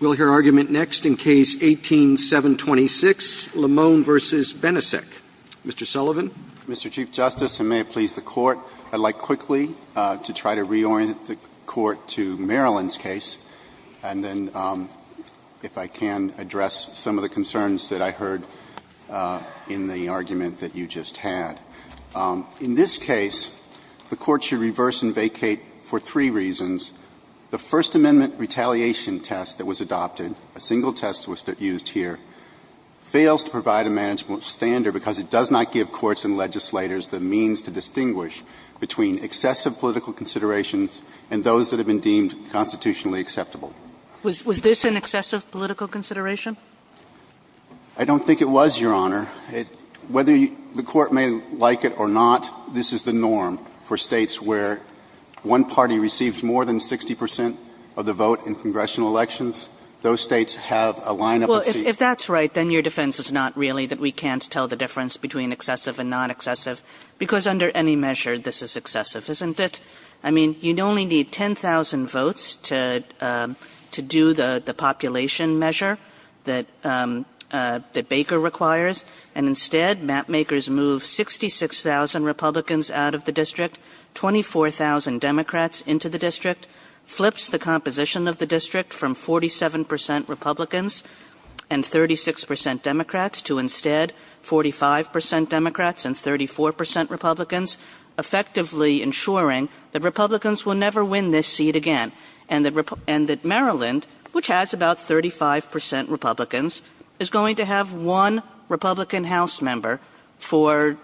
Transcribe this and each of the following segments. We'll hear argument next in Case 18-726, Lamone v. Benisek. Mr. Sullivan. Mr. Chief Justice, and may it please the Court, I'd like quickly to try to reorient the Court to Marilyn's case, and then if I can, address some of the concerns that I heard in the argument that you just had. In this case, the Court should reverse and vacate for three reasons. The First Amendment retaliation test that was adopted, a single test was used here, fails to provide a management standard because it does not give courts and legislators the means to distinguish between excessive political considerations and those that have been deemed constitutionally acceptable. Was this an excessive political consideration? I don't think it was, Your Honor. Whether the Court may like it or not, this is the norm for states where one party receives more than 60 percent of the vote in congressional elections. Those states have a lineup of seats. Well, if that's right, then your defense is not really that we can't tell the difference between excessive and non-excessive, because under any measure, this is excessive, isn't it? I mean, you'd only need 10,000 votes to do the population measure that Baker requires, and instead, mapmakers move 66,000 Republicans out of the district, 24,000 Democrats into the district, flips the composition of the district from 47 percent Republicans and 36 percent Democrats to instead 45 percent Democrats and 34 percent Republicans, effectively ensuring that Republicans will never win this seat again, and that Maryland, which has about 35 percent Republicans, is going to have one Republican House member for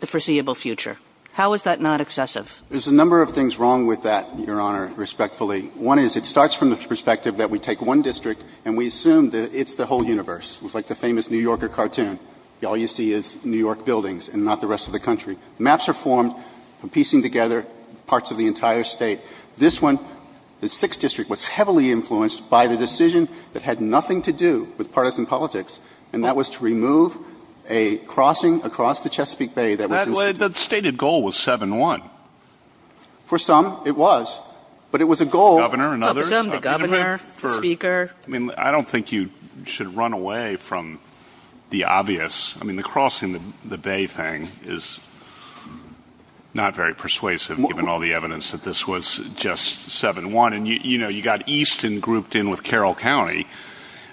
the foreseeable future. How is that not excessive? There's a number of things wrong with that, Your Honor, respectfully. One is it starts from the perspective that we take one district and we assume that it's the whole universe. It's like the famous New Yorker cartoon. All you see is New York buildings and not the rest of the country. Maps are formed from piecing together parts of the entire state. This one, the sixth district, was heavily influenced by the decision that had nothing to do with partisan politics, and that was to remove a crossing across the Chesapeake Bay that was instituted. The stated goal was 7-1. For some, it was. But it was a goal Governor and others Governor, the speaker I mean, I don't think you should run away from the obvious. I mean, the crossing the bay thing is not very persuasive, given all the evidence that this was just 7-1. You know, you got Easton grouped in with Carroll County,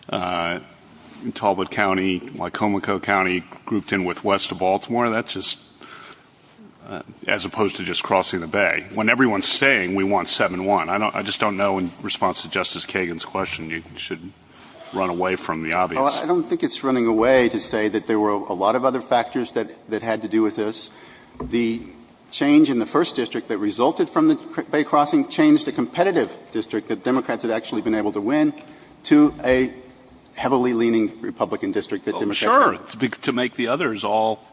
Talbot County, Wicomico County grouped in with west of Baltimore. That's just, as opposed to just crossing the bay. When everyone's saying we want 7-1, I just don't know in response to Justice Kagan's question, you should run away from the obvious. Well, I don't think it's running away to say that there were a lot of other factors that had to do with this. The change in the first district that resulted from the Bay crossing changed a competitive district that Democrats had actually been able to win to a heavily leaning Republican district that Democrats Sure. To make the others all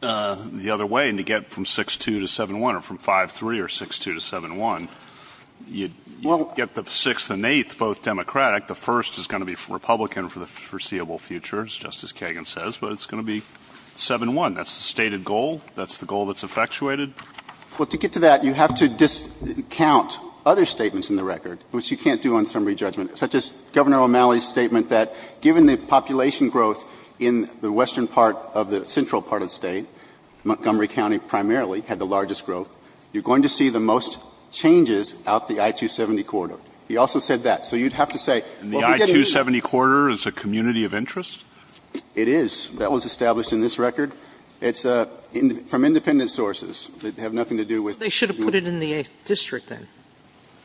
the other way and to get from 6-2 to 7-1 or from 5-3 or 6-2 to 7-1, you get the sixth and eighth both Democratic. The first is going to be Republican for the foreseeable future, as Justice Kagan says, but it's going to be 7-1. That's the stated goal. That's the goal that's effectuated. Well, to get to that, you have to discount other statements in the record, which you can't do on summary judgment, such as Governor O'Malley's statement that given the population growth in the western part of the central part of the state, Montgomery County primarily had the largest growth, you're going to see the most changes out the I-270 corridor. He also said that. So you'd have to say And the I-270 corridor is a community of interest? It is. That was established in this record. It's from independent sources that have nothing to do with They should have put it in the 8th district, then.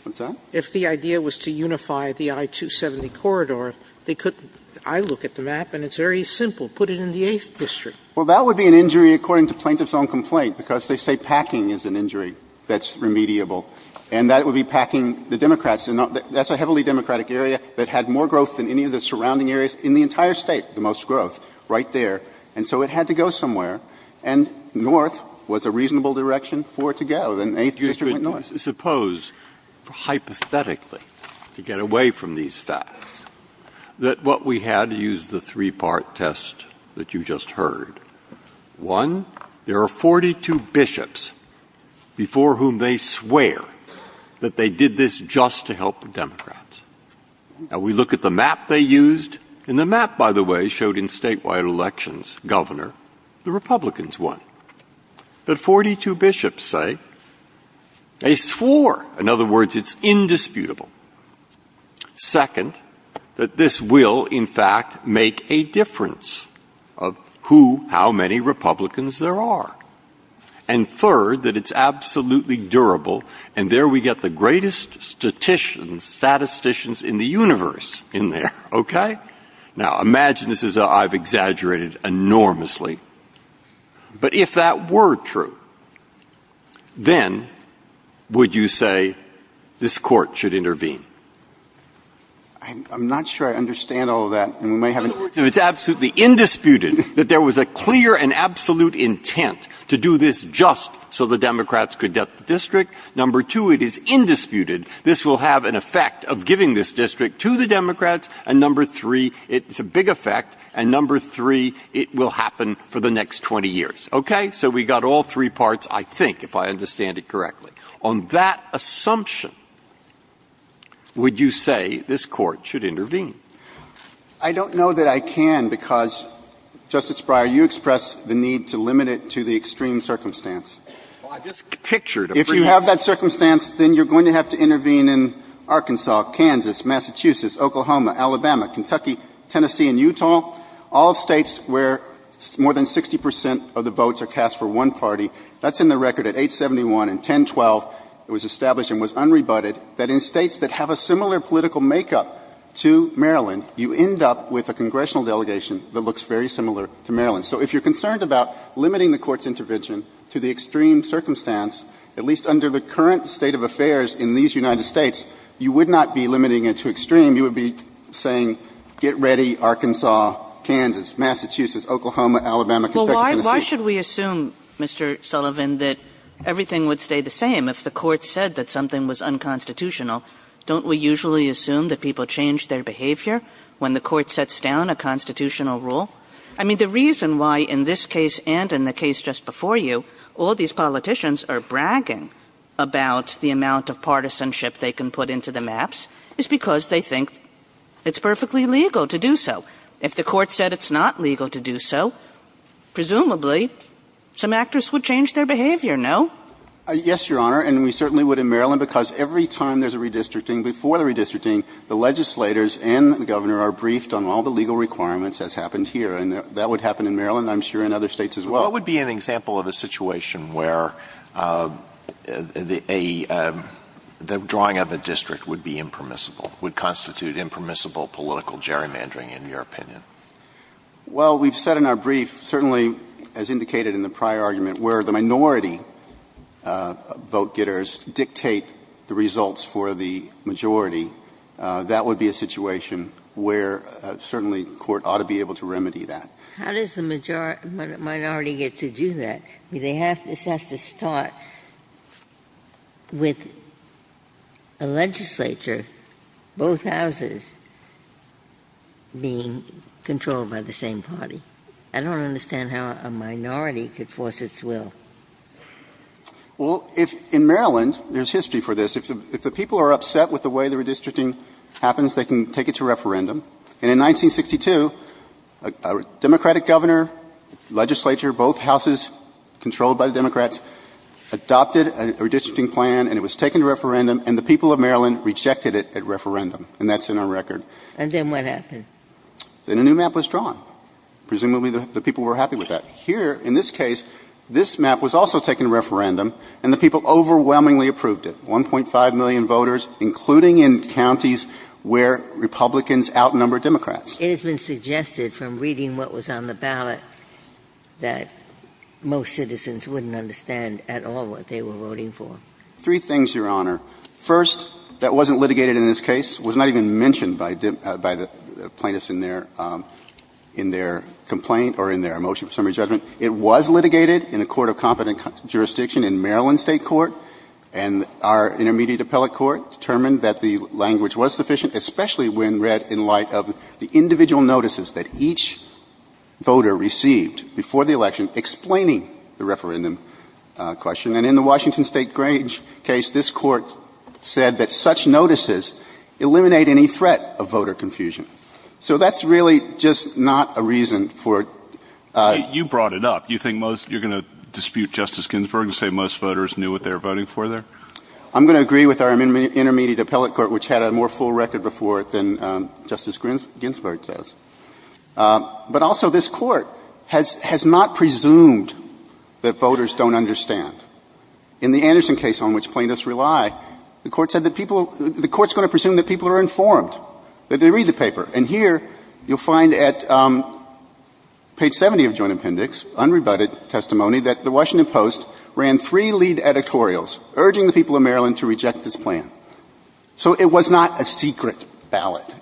What's that? If the idea was to unify the I-270 corridor, they couldn't. I look at the map and it's very simple. Put it in the 8th district. Well, that would be an injury according to Plaintiff's own complaint, because they say packing is an injury that's remediable, and that would be packing the Democrats. That's a heavily Democratic area that had more growth than any of the surrounding areas in the entire state, the most growth right there. And so it had to go somewhere, and north was a reasonable direction for it to go. Then 8th district went north. Suppose, hypothetically, to get away from these facts, that what we had to use the three-part test that you just heard. One, there are 42 bishops before whom they swear that they did this just to help the Democrats. Now, we look at the map they used, and the map, by the way, showed in statewide elections, Governor, the Republicans won. But 42 bishops say they swore, in other words, it's indisputable. Second, that this will, in fact, make a difference of who, how many Republicans there are. And third, that it's absolutely durable, and there we get the greatest statisticians, statisticians in the universe in there, okay? Now, imagine this is a — I've exaggerated enormously. But if that were true, then would you say this Court should intervene? I'm not sure I understand all of that, and we might have an — In other words, if it's absolutely indisputed that there was a clear and absolute intent to do this just so the Democrats could get the district, number two, it is indisputed this will have an effect of giving this district to the Democrats, and number three, it's a big effect, and number three, it will happen for the next 20 years, okay? So we've got all three parts, I think, if I understand it correctly. On that assumption, would you say this Court should intervene? I don't know that I can, because, Justice Breyer, you expressed the need to limit it to the extreme circumstance. Well, I just pictured a pretense. If you have that circumstance, then you're going to have to intervene in Arkansas, Kansas, Massachusetts, Oklahoma, Alabama, Kentucky, Tennessee, and Utah, all states where more than 60 percent of the votes are cast for one party. That's in the record at 871 and 1012. It was established and was unrebutted that in states that have a similar political makeup to Maryland, you end up with a congressional delegation that looks very similar to Maryland. So if you're concerned about limiting the Court's intervention to the extreme circumstance, at least under the current state of affairs in these United States, you would not be limiting it to extreme. You would be saying, get ready, Arkansas, Kansas, Massachusetts, Oklahoma, Alabama, Kentucky, Tennessee. Kagan, Well, why should we assume, Mr. Sullivan, that everything would stay the same if the Court said that something was unconstitutional? Don't we usually assume that people change their behavior when the Court sets down a constitutional rule? I mean, the reason why, in this case and in the case just before you, all these politicians are bragging about the amount of partisanship they can put into the maps is because they think it's perfectly legal to do so. If the Court said it's not legal to do so, presumably, some actors would change their behavior, no? Yes, Your Honor, and we certainly would in Maryland, because every time there's a redistricting, before the redistricting, the legislators and the Governor are briefed on all the legal requirements, as happened here, and that would happen in Maryland, I'm sure, and other states as well. What would be an example of a situation where a — the drawing of a district would be impermissible, would constitute impermissible political gerrymandering, in your opinion? Well, we've said in our brief, certainly as indicated in the prior argument, where the minority vote-getters dictate the results for the majority, that would be a situation where certainly the Court ought to be able to remedy that. How does the majority — minority get to do that? I mean, they have — this has to start with a legislature, both houses, being controlled by the same party. I don't understand how a minority could force its will. Well, if — in Maryland, there's history for this. If the people are upset with the way the redistricting happens, they can take it to referendum. And in 1962, a Democratic Governor, legislature, both houses controlled by the Democrats, adopted a redistricting plan, and it was taken to referendum, and the people of Maryland rejected it at referendum. And that's in our record. And then what happened? Then a new map was drawn. Presumably, the people were happy with that. Here, in this case, this map was also taken to referendum, and the people overwhelmingly approved it. And the ballot is now 1.5 million voters, including in counties where Republicans outnumber Democrats. It has been suggested from reading what was on the ballot that most citizens wouldn't understand at all what they were voting for. Three things, Your Honor. First, that wasn't litigated in this case. It was not even mentioned by the plaintiffs in their complaint or in their motion for summary judgment. It was litigated in a court of competent jurisdiction in Maryland State Court, and our intermediate appellate court determined that the language was sufficient, especially when read in light of the individual notices that each voter received before the election explaining the referendum question. And in the Washington State case, this Court said that such notices eliminate any threat of voter confusion. You think most — you're going to dispute Justice Ginsburg and say most voters knew what they were voting for there? I'm going to agree with our intermediate appellate court, which had a more full record before it than Justice Ginsburg does. But also this Court has not presumed that voters don't understand. In the Anderson case, on which plaintiffs rely, the Court said that people — the Court's going to presume that people are informed, that they read the paper. And here, you'll find at page 70 of Joint Appendix, unrebutted testimony, that the Washington Post ran three lead editorials, urging the people of Maryland to reject this plan. So it was not a secret ballot.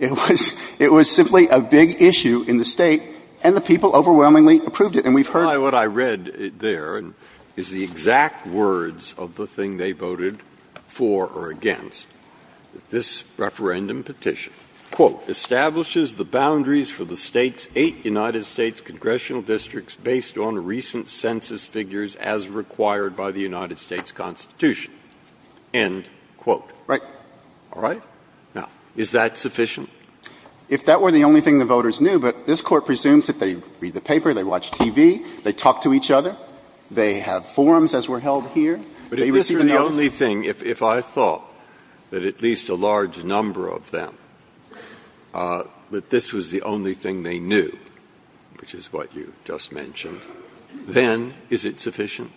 It was simply a big issue in the State, and the people overwhelmingly approved it, and we've heard it. Breyer, what I read there is the exact words of the thing they voted for or against. This referendum petition, quote, establishes the boundaries for the State's eight United States congressional districts based on recent census figures as required by the United States Constitution, end quote. Right. All right? Now, is that sufficient? If that were the only thing the voters knew, but this Court presumes that they read the paper, they watch TV, they talk to each other, they have forums as were held here, they receive a notice. If that were the only thing, if I thought that at least a large number of them, that this was the only thing they knew, which is what you just mentioned, then is it sufficient?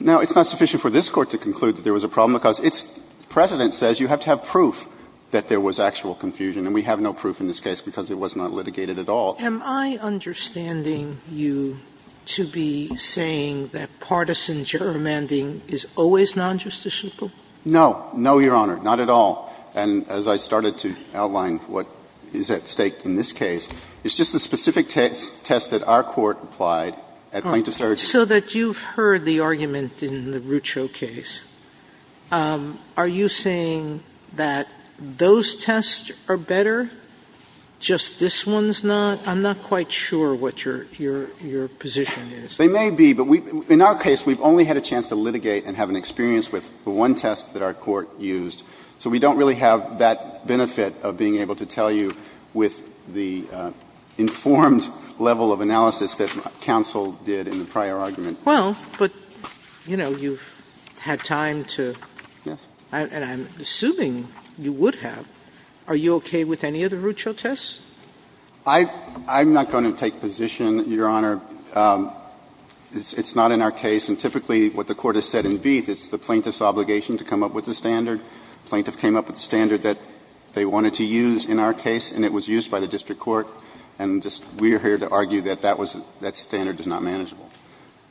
Now, it's not sufficient for this Court to conclude that there was a problem, because its precedent says you have to have proof that there was actual confusion, and we have no proof in this case because it was not litigated at all. Sotomayor, am I understanding you to be saying that partisan gerrymandering is always non-justiciable? No. No, Your Honor. Not at all. And as I started to outline what is at stake in this case, it's just the specific test that our Court applied at point of surrogacy. So that you've heard the argument in the Rucho case, are you saying that those tests are better, just this one's not? I'm not quite sure what your position is. They may be, but in our case, we've only had a chance to litigate and have an experience with the one test that our Court used, so we don't really have that benefit of being able to tell you with the informed level of analysis that counsel did in the prior argument. Well, but, you know, you've had time to, and I'm assuming you would have, are you okay with any of the Rucho tests? I'm not going to take position, Your Honor. It's not in our case, and typically what the Court has said in Vieth, it's the plaintiff's obligation to come up with the standard. The plaintiff came up with the standard that they wanted to use in our case, and it was used by the district court, and just we're here to argue that that standard is not manageable.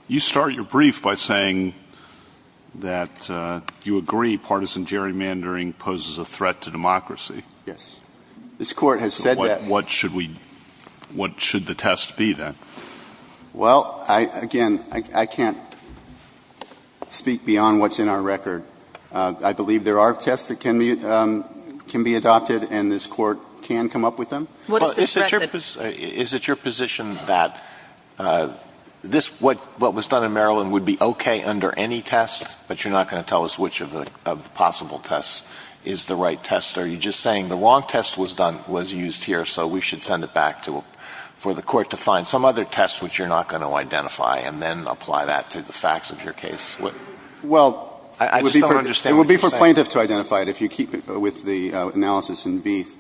You start your brief by saying that you agree partisan gerrymandering poses a threat to democracy. Yes. This Court has said that. What should we – what should the test be, then? Well, again, I can't speak beyond what's in our record. I believe there are tests that can be adopted, and this Court can come up with them. Well, is it your position that this – what was done in Maryland would be okay under any test, but you're not going to tell us which of the possible tests is the right test? Are you just saying the wrong test was done – was used here, so we should send it back to – for the Court to find some other test which you're not going to identify and then apply that to the facts of your case? Well, it would be for plaintiff to identify it if you keep with the analysis in Vieth.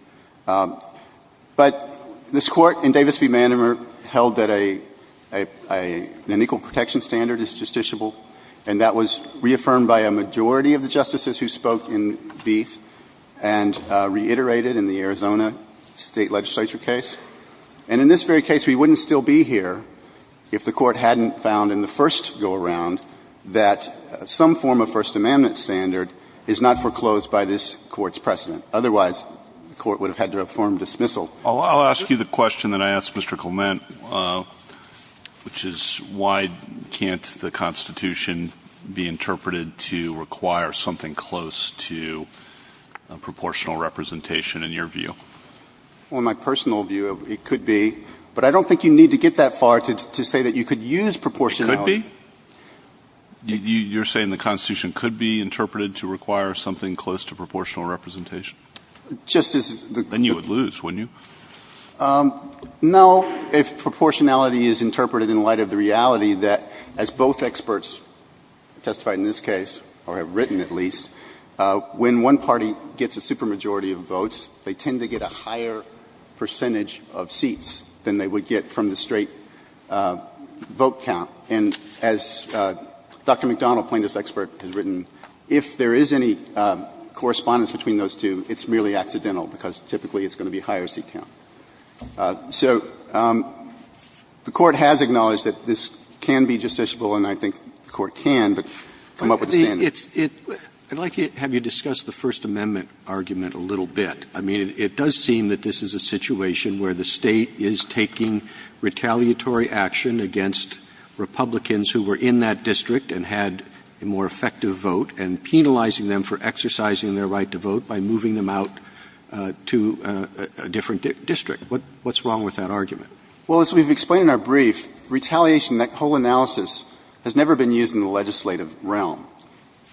But this Court in Davis v. Manamer held that an equal protection standard is justiciable, and that was reaffirmed by a majority of the justices who spoke in Vieth and reiterated in the Arizona State Legislature case. And in this very case, we wouldn't still be here if the Court hadn't found in the first go-around that some form of First Amendment standard is not foreclosed by this Court's precedent. Otherwise, the Court would have had to have formed dismissal. I'll ask you the question that I asked Mr. Clement, which is why can't the Constitution be interpreted to require something close to proportional representation in your view? Well, in my personal view, it could be. But I don't think you need to get that far to say that you could use proportionality. It could be? You're saying the Constitution could be interpreted to require something close to proportional representation? Just as the – Then you would lose, wouldn't you? No, if proportionality is interpreted in light of the reality that, as both experts testified in this case, or have written at least, when one party gets a supermajority of votes, they tend to get a higher percentage of seats than they would get from the straight vote count. And as Dr. McDonnell, plaintiff's expert, has written, if there is any correspondence between those two, it's merely accidental, because typically it's going to be higher in the high-seat count. So the Court has acknowledged that this can be justiciable, and I think the Court can, but come up with a standard. It's – I'd like to have you discuss the First Amendment argument a little bit. I mean, it does seem that this is a situation where the State is taking retaliatory action against Republicans who were in that district and had a more effective vote, and penalizing them for exercising their right to vote by moving them out to a different district. What's wrong with that argument? Well, as we've explained in our brief, retaliation, that whole analysis, has never been used in the legislative realm.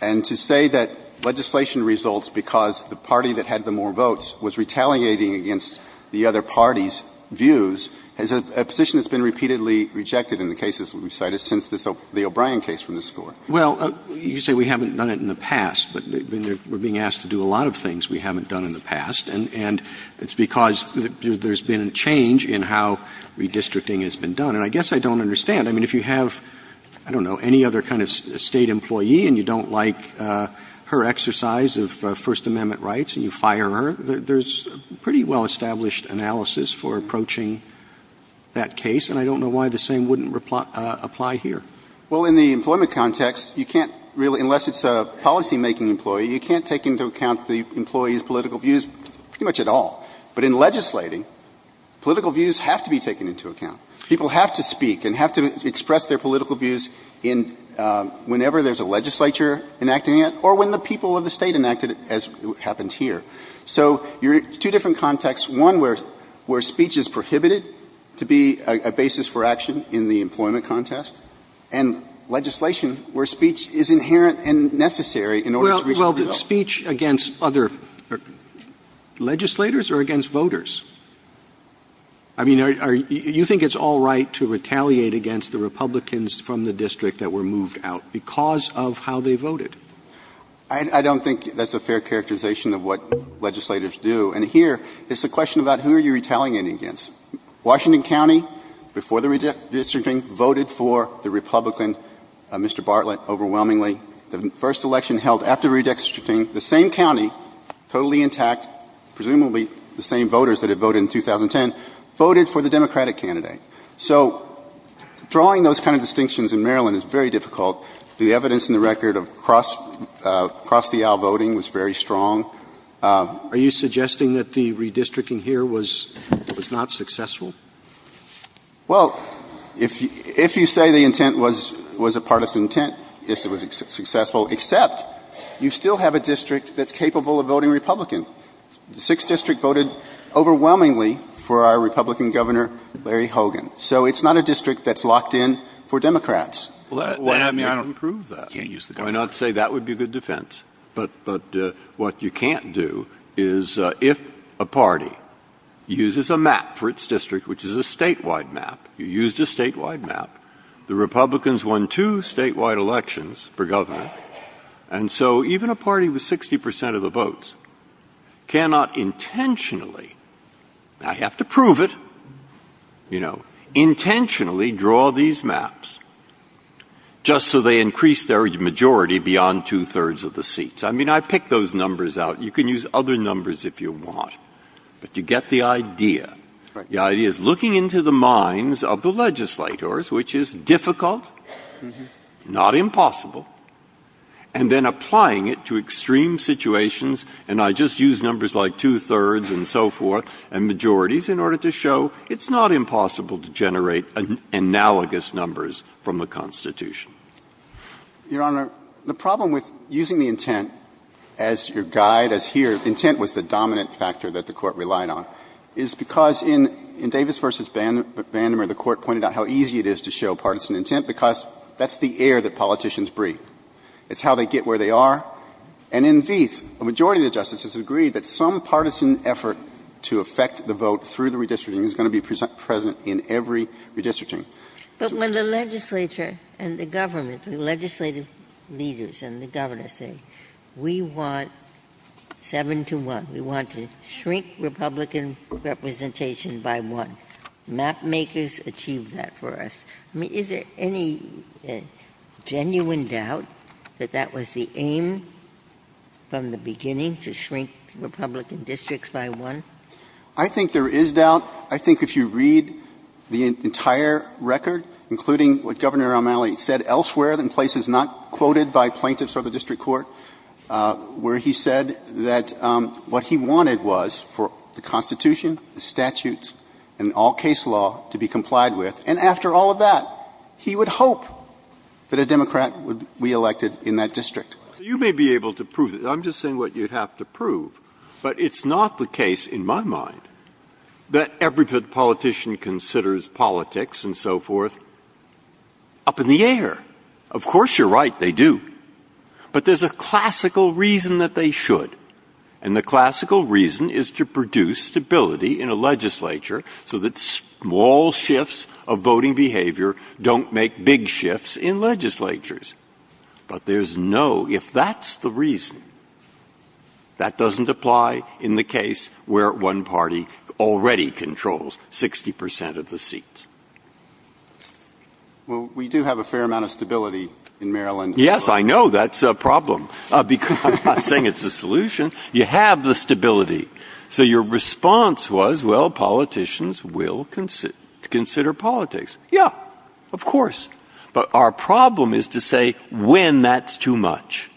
And to say that legislation results because the party that had the more votes was retaliating against the other party's views is a position that's been repeatedly rejected in the cases we've cited since the O'Brien case from this Court. Well, you say we haven't done it in the past, but we're being asked to do a lot of it in the past, and it's because there's been a change in how redistricting has been done. And I guess I don't understand. I mean, if you have, I don't know, any other kind of State employee, and you don't like her exercise of First Amendment rights, and you fire her, there's a pretty well-established analysis for approaching that case, and I don't know why the same wouldn't apply here. Well, in the employment context, you can't really – unless it's a policymaking employee, you can't take into account the employee's political views pretty much at all. But in legislating, political views have to be taken into account. People have to speak and have to express their political views in – whenever there's a legislature enacting it, or when the people of the State enacted it, as happened here. So you're in two different contexts, one where speech is prohibited to be a basis for action in the employment context, and legislation where speech is inherent and necessary in order to reach the result. Roberts Well, does speech against other legislators or against voters? I mean, are – you think it's all right to retaliate against the Republicans from the district that were moved out because of how they voted? I don't think that's a fair characterization of what legislators do. And here, it's a question about who are you retaliating against. Washington County, before the redistricting, voted for the Republican, Mr. Bartlett, overwhelmingly. The first election held after redistricting, the same county, totally intact, presumably the same voters that had voted in 2010, voted for the Democratic candidate. So drawing those kind of distinctions in Maryland is very difficult. The evidence in the record of cross-the-aisle voting was very strong. Are you suggesting that the redistricting here was not successful? Well, if you say the intent was a partisan intent, it was successful, except you still have a district that's capable of voting Republican. The 6th District voted overwhelmingly for our Republican Governor, Larry Hogan. So it's not a district that's locked in for Democrats. I mean, I don't approve that. I'm not saying that would be a good defense, but what you can't do is, if a party uses a map for its district, which is a statewide map, you used a statewide map, the Republicans won two statewide elections per government, and so even a party with 60 percent of the votes cannot intentionally — I have to prove it — you know, intentionally draw these maps just so they increase their majority beyond two-thirds of the seats. I mean, I picked those numbers out. You can use other numbers if you want, but you get the idea. The idea is looking into the minds of the legislators, which is difficult, not impossible, and then applying it to extreme situations, and I just used numbers like two-thirds and so forth, and majorities, in order to show it's not impossible to generate analogous numbers from the Constitution. Your Honor, the problem with using the intent as your guide, as here, intent was the dominant factor that the Court relied on, is because in Davis v. Vandemur, the Court pointed out how easy it is to show partisan intent because that's the air that politicians breathe. It's how they get where they are. And in Vieth, a majority of the justices agreed that some partisan effort to affect the vote through the redistricting is going to be present in every redistricting. But when the legislature and the government, the legislative leaders and the governors say, we want seven to one, we want to shrink Republican representation by one, mapmakers achieved that for us. I mean, is there any genuine doubt that that was the aim from the beginning, to shrink Republican districts by one? I think there is doubt. I think if you read the entire record, including what Governor O'Malley said elsewhere in places not quoted by plaintiffs or the district court, where he said that what he wanted was for the Constitution, the statutes, and all case law to be complied with, and after all of that, he would hope that a Democrat would be elected in that district. Breyer. So you may be able to prove it. I'm just saying what you'd have to prove. But it's not the case, in my mind, that every politician considers politics and so forth up in the air. Of course, you're right, they do. But there's a classical reason that they should, and the classical reason is to produce stability in a legislature so that small shifts of voting behavior don't make big shifts in legislatures. But there's no, if that's the reason, that doesn't apply in the case where one party already controls 60 percent of the seats. Well, we do have a fair amount of stability in Maryland. Yes, I know. That's a problem. I'm not saying it's a solution. You have the stability. So your response was, well, politicians will consider politics. Yeah, of course. But our problem is to say when that's too much,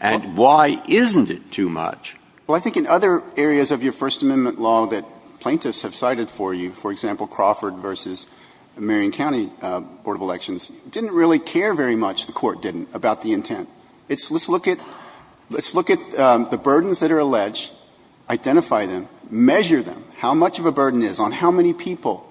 and why isn't it too much? Well, I think in other areas of your First Amendment law that plaintiffs have cited for you, for example, Crawford v. Marion County Board of Elections, didn't really care very much, the Court didn't, about the intent. It's let's look at the burdens that are alleged, identify them, measure them, how much of a burden is on how many people,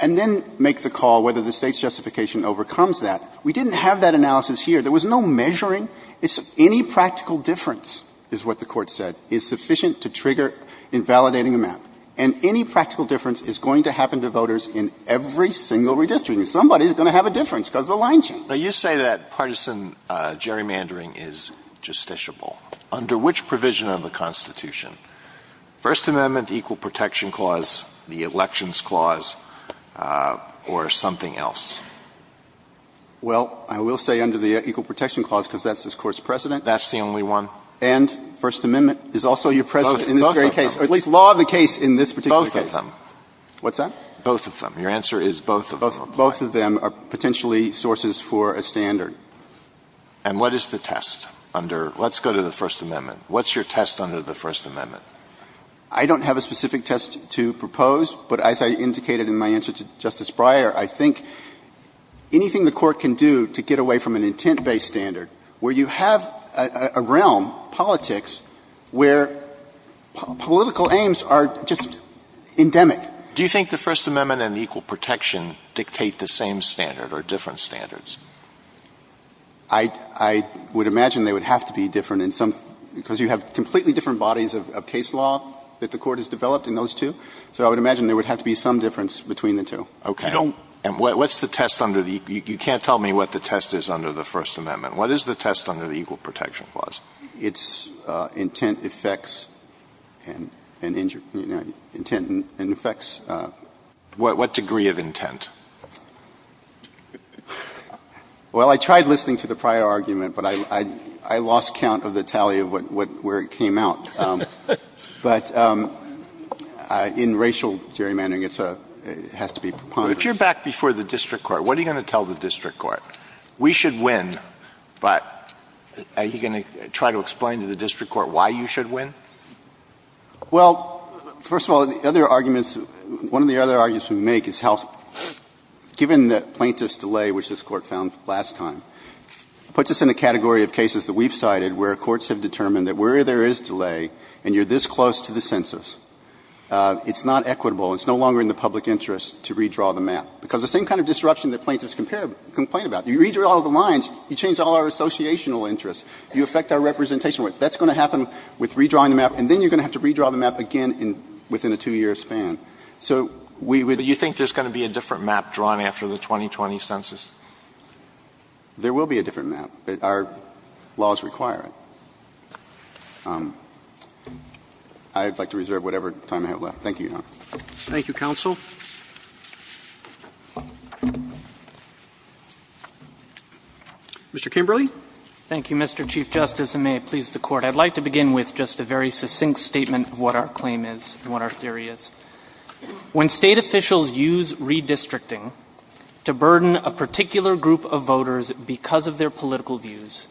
and then make the call whether the State's justification overcomes that. We didn't have that analysis here. There was no measuring. It's any practical difference, is what the Court said, is sufficient to trigger invalidating a map. And any practical difference is going to happen to voters in every single redistricting. Somebody is going to have a difference because of the line change. Now, you say that partisan gerrymandering is justiciable. Under which provision of the Constitution, First Amendment, the Equal Protection Clause, the Elections Clause, or something else? Well, I will say under the Equal Protection Clause, because that's this Court's precedent. That's the only one. And First Amendment is also your precedent in this very case. Both of them. Or at least law of the case in this particular case. Both of them. What's that? Both of them. Your answer is both of them. Both of them are potentially sources for a standard. And what is the test under the First Amendment? What's your test under the First Amendment? I don't have a specific test to propose. But as I indicated in my answer to Justice Breyer, I think anything the Court can do to get away from an intent-based standard where you have a realm, politics, where political aims are just endemic. Do you think the First Amendment and the Equal Protection dictate the same standard or different standards? I would imagine they would have to be different in some – because you have completely different bodies of case law that the Court has developed in those two. So I would imagine there would have to be some difference between the two. Okay. And what's the test under the – you can't tell me what the test is under the First Amendment. What is the test under the Equal Protection Clause? It's intent affects and – intent and affects. What degree of intent? Well, I tried listening to the prior argument, but I lost count of the tally of what – where it came out. But in racial gerrymandering, it's a – it has to be preponderance. But if you're back before the district court, what are you going to tell the district court? We should win, but are you going to try to explain to the district court why you should win? Well, first of all, the other arguments – one of the other arguments we make is how – given the plaintiff's delay, which this Court found last time, puts us in a category of cases that we've cited where courts have determined that where there is delay and you're this close to the census, it's not equitable. It's no longer in the public interest to redraw the map, because the same kind of disruption that plaintiffs complain about, you redraw all the lines, you change all our associational interests, you affect our representation. That's going to happen with redrawing the map, and then you're going to have to redraw the map again in – within a two-year span. So we would – But you think there's going to be a different map drawn after the 2020 census? There will be a different map. Our laws require it. I would like to reserve whatever time I have left. Thank you, Your Honor. Thank you, counsel. Mr. Kimberly. Thank you, Mr. Chief Justice, and may it please the Court. I'd like to begin with just a very succinct statement of what our claim is and what our theory is. When State officials use redistricting to burden a particular group of voters because of their political views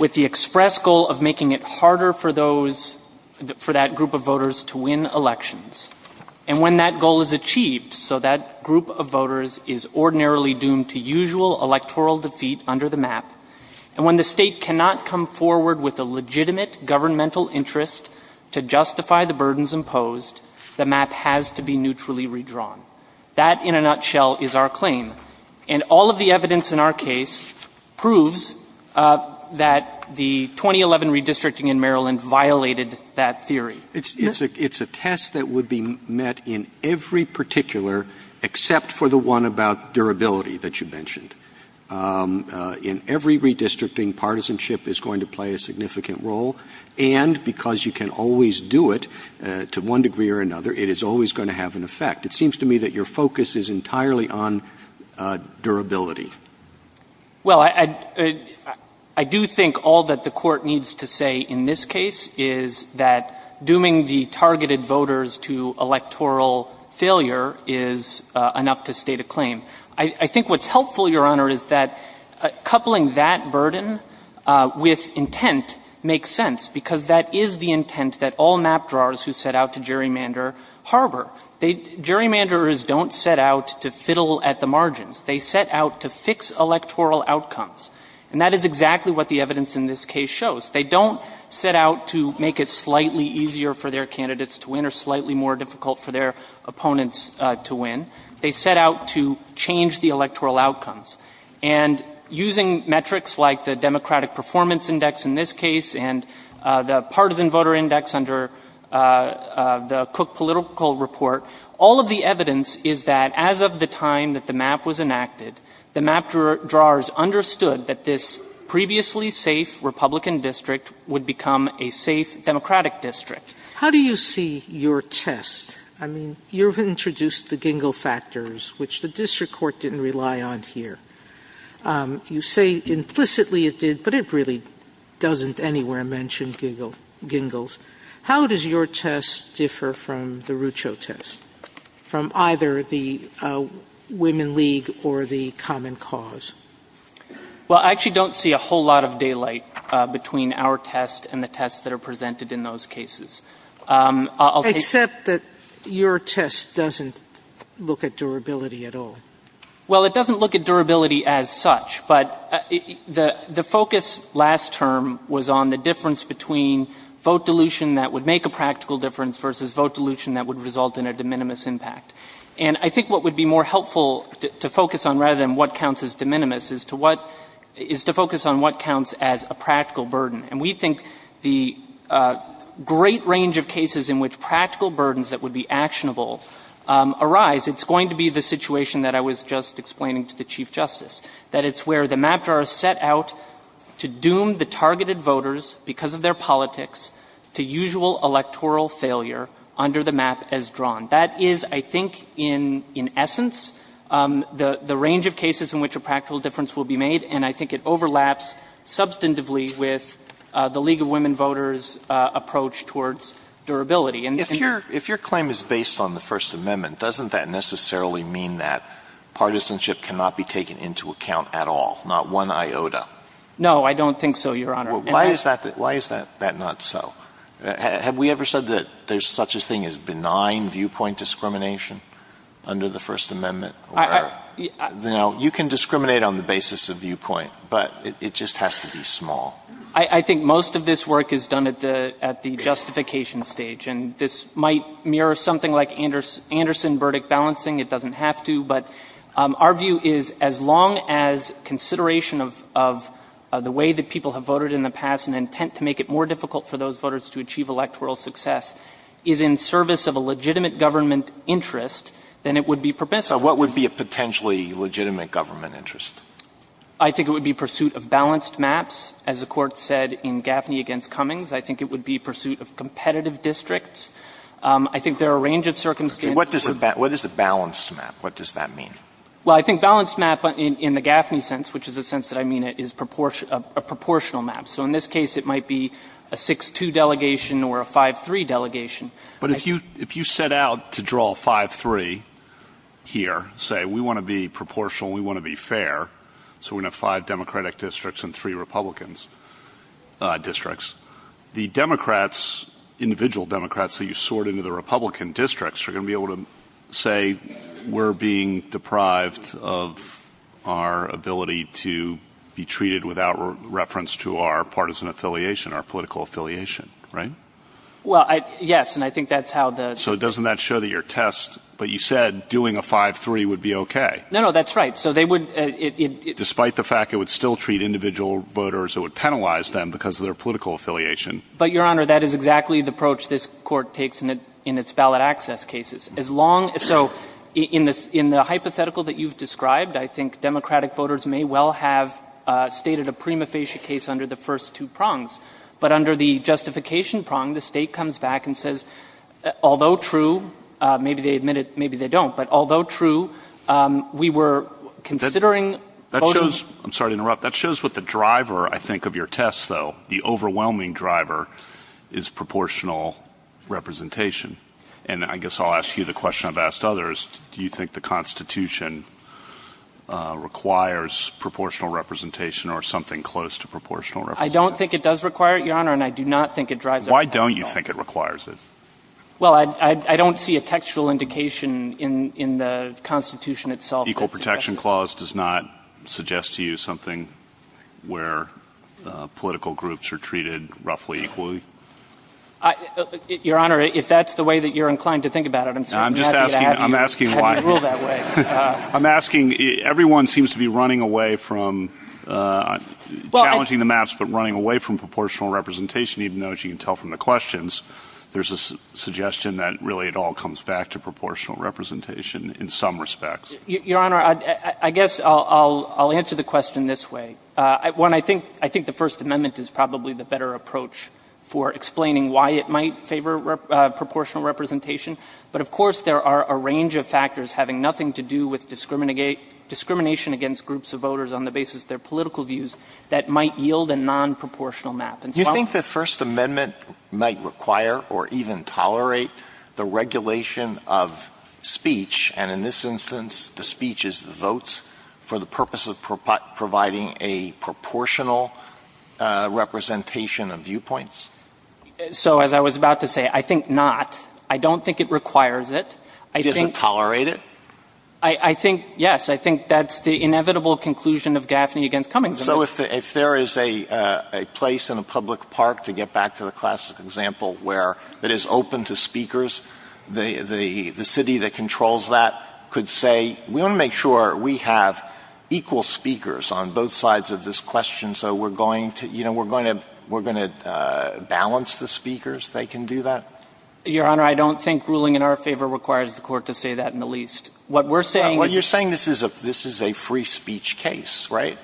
with the express goal of making it harder for those – for that group of voters to win elections, and when that goal is achieved so that group of voters is ordinarily doomed to usual electoral defeat under the map, and when the State cannot come forward with a legitimate governmental interest to justify the burdens imposed, the map has to be neutrally redrawn. That in a nutshell is our claim. And all of the evidence in our case proves that the 2011 redistricting in Maryland violated that theory. It's a test that would be met in every particular, except for the one about durability that you mentioned. In every redistricting, partisanship is going to play a significant role, and because you can always do it to one degree or another, it is always going to have an effect. It seems to me that your focus is entirely on durability. Well, I do think all that the Court needs to say in this case is that dooming the targeted voters to electoral failure is enough to state a claim. I think what's helpful, Your Honor, is that coupling that burden with intent makes sense, because that is the intent that all map drawers who set out to gerrymander harbor. Gerrymanderers don't set out to fiddle at the margins. They set out to fix electoral outcomes, and that is exactly what the evidence in this case shows. They don't set out to make it slightly easier for their candidates to win or slightly more difficult for their opponents to win. They set out to change the electoral outcomes. And using metrics like the Democratic Performance Index in this case and the partisan voter index under the Cook Political Report, all of the evidence is that as of the time that the map was enacted, the map drawers understood that this previously safe Republican district would become a safe Democratic district. How do you see your test? I mean, you've introduced the Gingell factors, which the district court didn't rely on here. You say implicitly it did, but it really doesn't anywhere mention Gingell's. How does your test differ from the Rucho test, from either the Women League or the Common Cause? Well, I actually don't see a whole lot of daylight between our test and the tests that are presented in those cases. Except that your test doesn't look at durability at all. Well, it doesn't look at durability as such. But the focus last term was on the difference between vote dilution that would make a practical difference versus vote dilution that would result in a de minimis impact. And I think what would be more helpful to focus on, rather than what counts as de minimis, is to focus on what counts as a practical burden. And we think the great range of cases in which practical burdens that would be actionable arise, it's going to be the situation that I was just explaining to the Chief Justice, that it's where the map drawers set out to doom the targeted voters, because of their politics, to usual electoral failure under the map as drawn. That is, I think, in essence, the range of cases in which a practical difference will be made, and I think it overlaps substantively with the League of Women Voters' approach towards durability. If your claim is based on the First Amendment, doesn't that necessarily mean that partisanship cannot be taken into account at all, not one iota? No, I don't think so, Your Honor. Well, why is that not so? Have we ever said that there's such a thing as benign viewpoint discrimination under the First Amendment? You know, you can discriminate on the basis of viewpoint, but it just has to be small. I think most of this work is done at the justification stage, and this might mirror something like Anderson verdict balancing. It doesn't have to, but our view is as long as consideration of the way that people have voted in the past and intent to make it more difficult for those voters to achieve electoral success is in service of a legitimate government interest, then it would be permissible. So what would be a potentially legitimate government interest? I think it would be pursuit of balanced maps. As the Court said in Gaffney v. Cummings, I think it would be pursuit of competitive districts. I think there are a range of circumstances. What does a balanced map, what does that mean? Well, I think balanced map in the Gaffney sense, which is the sense that I mean, is a proportional map. So in this case, it might be a 6-2 delegation or a 5-3 delegation. But if you set out to draw 5-3 here, say we want to be proportional, we want to be fair, so we're going to have five Democratic districts and three Republican districts. The Democrats, individual Democrats that you sort into the Republican districts are going to be able to say, we're being deprived of our ability to be treated without reference to our partisan affiliation, our political affiliation, right? Well, yes, and I think that's how the... So doesn't that show that your test, but you said doing a 5-3 would be okay. No, no, that's right. So they would... Despite the fact it would still treat individual voters, it would penalize them because of their political affiliation. But, Your Honor, that is exactly the approach this Court takes in its ballot access cases. As long as, so in the hypothetical that you've described, I think Democratic voters may well have stated a prima facie case under the first two prongs, but under the justification prong, the State comes back and says, although true, maybe they admit it, maybe they don't. But although true, we were considering... That shows, I'm sorry to interrupt, that shows what the driver, I think, of your test though, the overwhelming driver is proportional representation. And I guess I'll ask you the question I've asked others. Do you think the Constitution requires proportional representation or something close to proportional representation? I don't think it does require it, Your Honor, and I do not think it drives it. Why don't you think it requires it? Well, I don't see a textual indication in the Constitution itself. The Equal Protection Clause does not suggest to you something where political groups are treated roughly equally? Your Honor, if that's the way that you're inclined to think about it, I'm sorry. I'm just asking, I'm asking why. I'm asking, everyone seems to be running away from challenging the maps, but running away from proportional representation, even though, as you can tell from the questions, there's a suggestion that really it all comes back to proportional representation in some respects. Your Honor, I guess I'll answer the question this way. One, I think the First Amendment is probably the better approach for explaining why it might favor proportional representation, but of course, there are a range of factors having nothing to do with discrimination against groups of voters on the basis of their political views that might yield a non-proportional map. Do you think the First Amendment might require or even tolerate the regulation of speech, and in this instance, the speech is the votes, for the purpose of providing a proportional representation of viewpoints? So, as I was about to say, I think not. I don't think it requires it. I think — Does it tolerate it? I think, yes. I think that's the inevitable conclusion of Gaffney v. Cummings. So if there is a place in a public park, to get back to the classic example, where it is open to speakers, the city that controls that could say, we want to make sure we have equal speakers on both sides of this question, so we're going to — you know, we're going to balance the speakers, they can do that? Your Honor, I don't think ruling in our favor requires the Court to say that, in the least. What we're saying is — Well, you're saying this is a free speech case, right?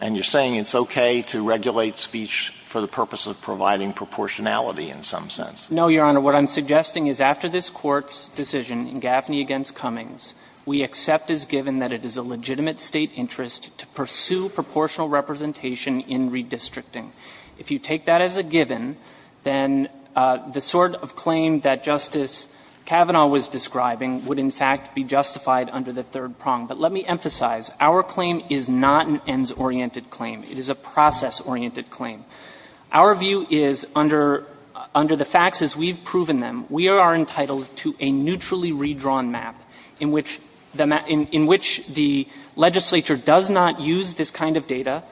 And you're saying it's okay to regulate speech for the purpose of providing proportionality in some sense? No, Your Honor. What I'm suggesting is, after this Court's decision in Gaffney v. Cummings, we accept as given that it is a legitimate State interest to pursue proportional representation in redistricting. If you take that as a given, then the sort of claim that Justice Kavanaugh was describing would, in fact, be justified under the third prong. But let me emphasize, our claim is not an ends-oriented claim. It is a process-oriented claim. Our view is, under the facts as we've proven them, we are entitled to a neutrally redrawn map in which the — in which the legislature does not use this kind of data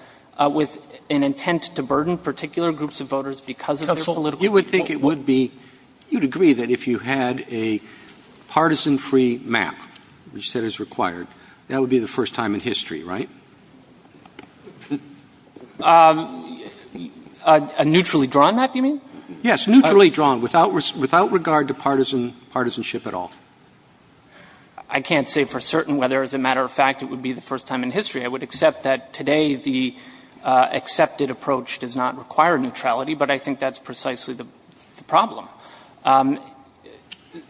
with an intent to burden particular groups of voters because of their political support. You would think it would be — you'd agree that if you had a partisan-free map, which you said is required, that would be the first time in history, right? A neutrally drawn map, you mean? Yes, neutrally drawn, without regard to partisanship at all. I can't say for certain whether, as a matter of fact, it would be the first time in history. I would accept that today the accepted approach does not require neutrality, but I think that's precisely the problem.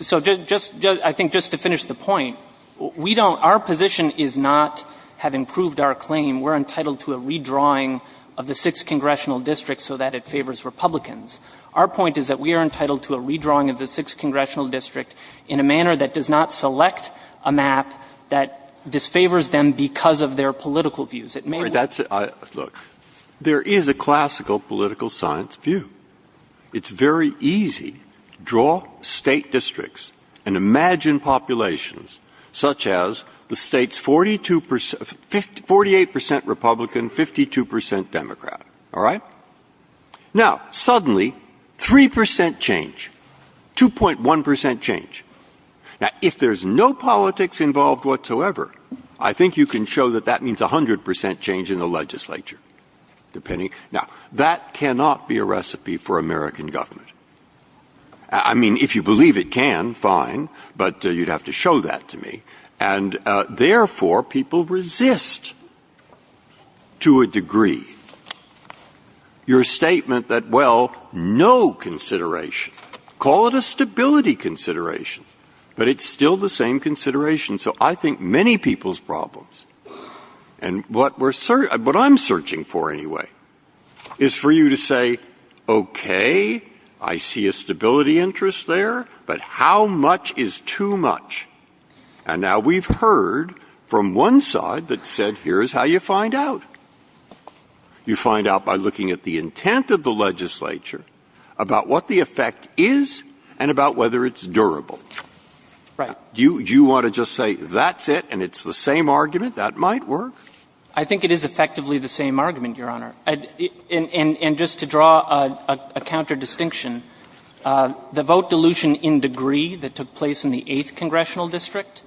So just — I think just to finish the point, we don't — our position is not, having proved our claim, we're entitled to a redrawing of the Sixth Congressional District so that it favors Republicans. Our point is that we are entitled to a redrawing of the Sixth Congressional District in a manner that does not select a map that disfavors them because of their political views. It may be — That's — look, there is a classical political science view. It's very easy to draw State districts and imagine populations such as the State's 42 percent — 48 percent Republican, 52 percent Democrat, all right? Now, suddenly, 3 percent change, 2.1 percent change. Now, if there's no politics involved whatsoever, I think you can show that that means 100 percent change in the legislature, depending — now, that cannot be a recipe. That cannot be a recipe for American government. I mean, if you believe it can, fine, but you'd have to show that to me. And therefore, people resist, to a degree, your statement that, well, no consideration. Call it a stability consideration, but it's still the same consideration. So I think many people's problems — and what we're — what I'm searching for, anyway, is for you to say, okay, I see a stability interest there, but how much is too much? And now we've heard from one side that said, here's how you find out. You find out by looking at the intent of the legislature, about what the effect is, and about whether it's durable. Right. Do you want to just say that's it and it's the same argument? That might work. I think it is effectively the same argument, Your Honor. And just to draw a counter-distinction, the vote dilution in degree that took place in the 8th Congressional District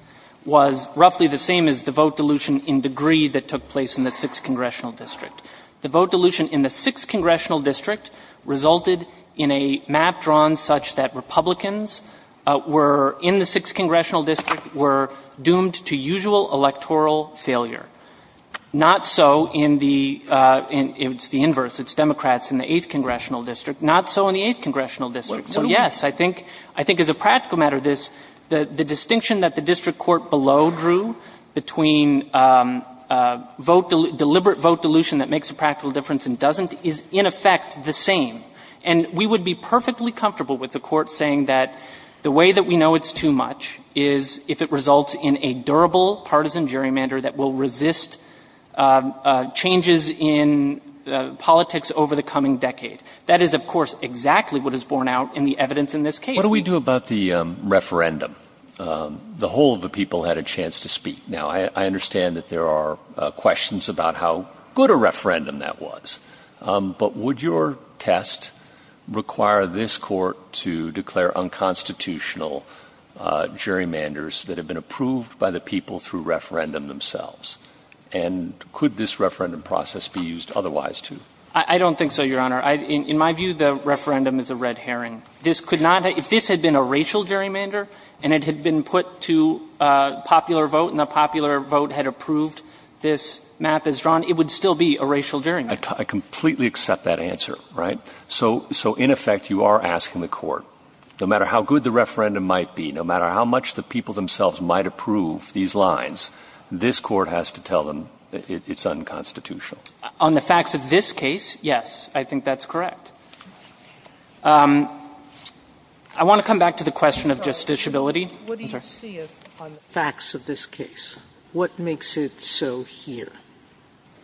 was roughly the same as the vote dilution in degree that took place in the 6th Congressional District. The vote dilution in the 6th Congressional District resulted in a map drawn such that Republicans were — in the 6th Congressional District were doomed to usual electoral failure. Not so in the — it's the inverse, it's Democrats in the 8th Congressional District. Not so in the 8th Congressional District. So, yes, I think — I think as a practical matter, this — the distinction that the district court below drew between vote — deliberate vote dilution that makes a practical difference and doesn't is, in effect, the same. And we would be perfectly comfortable with the court saying that the way that we know it's too much is if it results in a durable, partisan gerrymander that will resist changes in politics over the coming decade. That is, of course, exactly what is borne out in the evidence in this case. What do we do about the referendum? The whole of the people had a chance to speak. Now, I understand that there are questions about how good a referendum that was. But would your test require this Court to declare unconstitutional gerrymanders that have been approved by the people through referendum themselves? And could this referendum process be used otherwise, too? I don't think so, Your Honor. In my view, the referendum is a red herring. This could not — if this had been a racial gerrymander and it had been put to popular vote and the popular vote had approved this map as drawn, it would still be a racial gerrymander. I completely accept that answer, right? So in effect, you are asking the Court, no matter how good the referendum might be, no matter how much the people themselves might approve these lines, this Court has to tell them it's unconstitutional. On the facts of this case, yes, I think that's correct. I want to come back to the question of justiciability. What do you see as facts of this case? What makes it so here?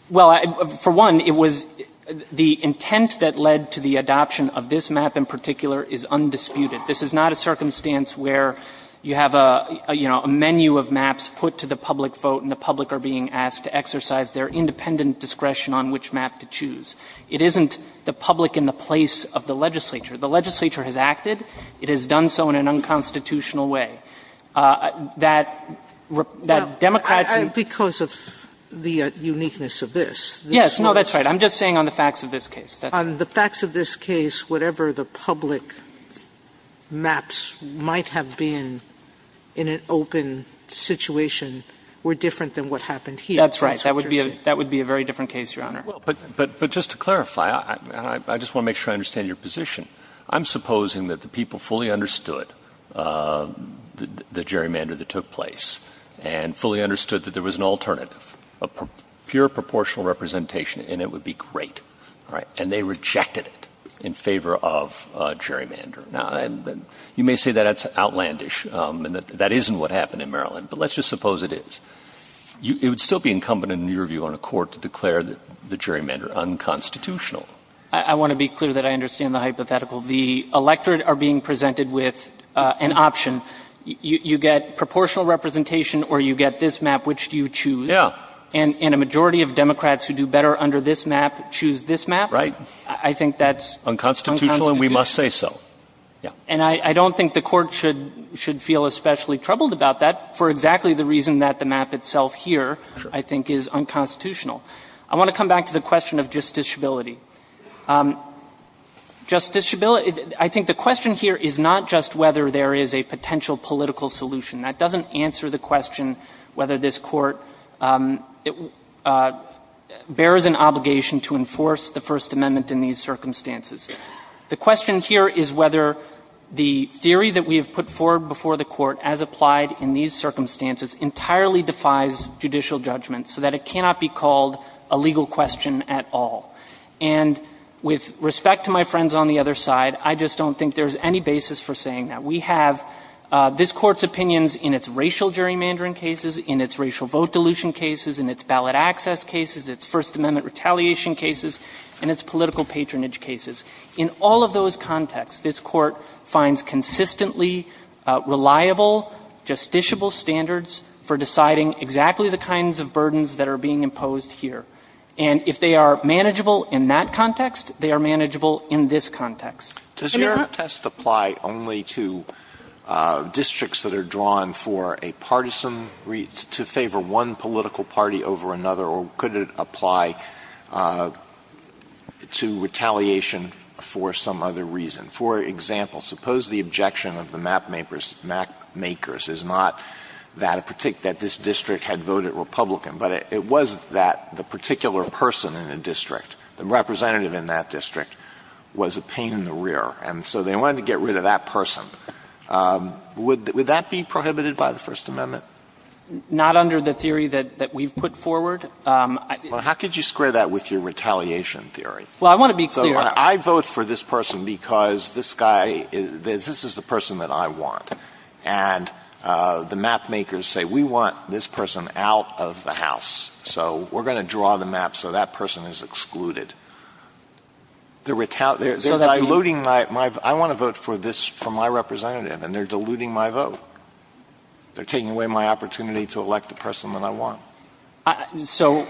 Well, for one, it was — the intent that led to the adoption of this map in particular is undisputed. This is not a circumstance where you have a, you know, a menu of maps put to the public vote and the public are being asked to exercise their independent discretion on which map to choose. It isn't the public in the place of the legislature. The legislature has acted. It has done so in an unconstitutional way. That Democrats — Well, that's because of the uniqueness of this. Yes, no, that's right. I'm just saying on the facts of this case. On the facts of this case, whatever the public maps might have been in an open situation were different than what happened here. That's right. That would be a very different case, Your Honor. Well, but just to clarify, and I just want to make sure I understand your position, I'm supposing that the people fully understood the gerrymander that took place and fully understood that there was an alternative, a pure proportional representation and it would be great, right? And they rejected it in favor of gerrymander. Now, you may say that that's outlandish and that that isn't what happened in Maryland, but let's just suppose it is. It would still be incumbent in your view on a court to declare the gerrymander unconstitutional. I want to be clear that I understand the hypothetical. The electorate are being presented with an option. You get proportional representation or you get this map. Which do you choose? Yeah. And a majority of Democrats who do better under this map choose this map. I think that's unconstitutional. Unconstitutional, and we must say so. Yeah. And I don't think the Court should feel especially troubled about that for exactly the reason that the map itself here I think is unconstitutional. I want to come back to the question of justiciability. Justice Shabila, I think the question here is not just whether there is a potential political solution. That doesn't answer the question whether this Court bears an obligation to enforce the First Amendment in these circumstances. The question here is whether the theory that we have put forward before the Court as applied in these circumstances entirely defies judicial judgment so that it cannot be called a legal question at all. And with respect to my friends on the other side, I just don't think there's any basis for saying that. We have this Court's opinions in its racial gerrymandering cases, in its racial vote dilution cases, in its ballot access cases, its First Amendment retaliation cases, and its political patronage cases. In all of those contexts, this Court finds consistently reliable, justiciable standards for deciding exactly the kinds of burdens that are being imposed here. And if they are manageable in that context, they are manageable in this context. Can I interrupt? Alitoson Does your test apply only to districts that are drawn for a partisan reach to favor one political party over another, or could it apply to retaliation for some other reason? For example, suppose the objection of the mapmakers is not that this district had voted Republican, but it was that the particular person in a district, the representative in that district, was a pain in the rear, and so they wanted to get rid of that person. Would that be prohibited by the First Amendment? Gershengorn Not under the theory that we've put forward. Alitoson Well, how could you square that with your retaliation theory? Gershengorn Well, I want to be clear. Alitoson I vote for this person because this guy is, this is the person that I want. And the mapmakers say, we want this person out of the House, so we're going to draw the map so that person is excluded. They're diluting my, I want to vote for this, for my representative, and they're diluting my vote. They're taking away my opportunity to elect the person that I want. So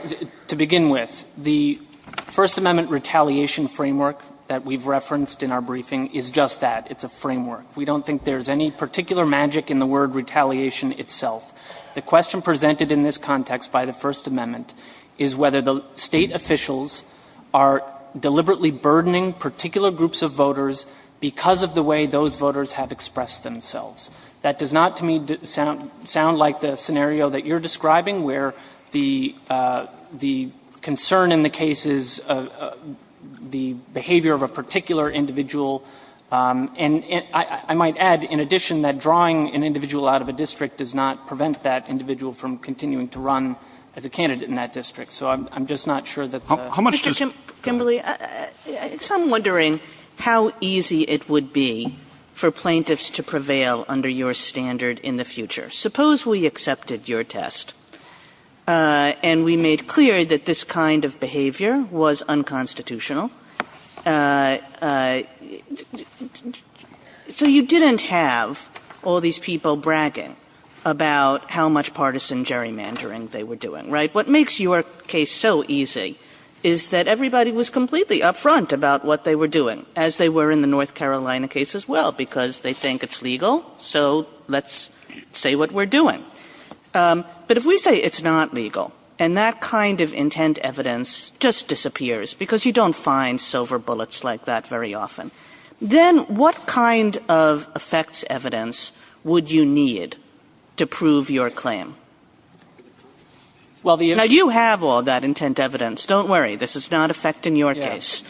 to begin with, the First Amendment retaliation framework that we've referenced in our briefing is just that. It's a framework. We don't think there's any particular magic in the word retaliation itself. The question presented in this context by the First Amendment is whether the State officials are deliberately burdening particular groups of voters because of the way those voters have expressed themselves. That does not to me sound like the scenario that you're describing, where the concern in the case is the behavior of a particular individual. And I might add, in addition, that drawing an individual out of a district does not prevent that individual from continuing to run as a candidate in that district. Kagan. Kimberly, I'm wondering how easy it would be for plaintiffs to prevail under your standard in the future. Suppose we accepted your test and we made clear that this kind of behavior was unconstitutional. So you didn't have all these people bragging about how much partisan gerrymandering they were doing, right? What makes your case so easy is that everybody was completely up front about what they were doing, as they were in the North Carolina case as well, because they think it's legal, so let's say what we're doing. But if we say it's not legal and that kind of intent evidence just disappears, because you don't find silver bullets like that very often, then what kind of effects evidence would you need to prove your claim? Now, you have all that intent evidence. Don't worry. This is not affecting your case.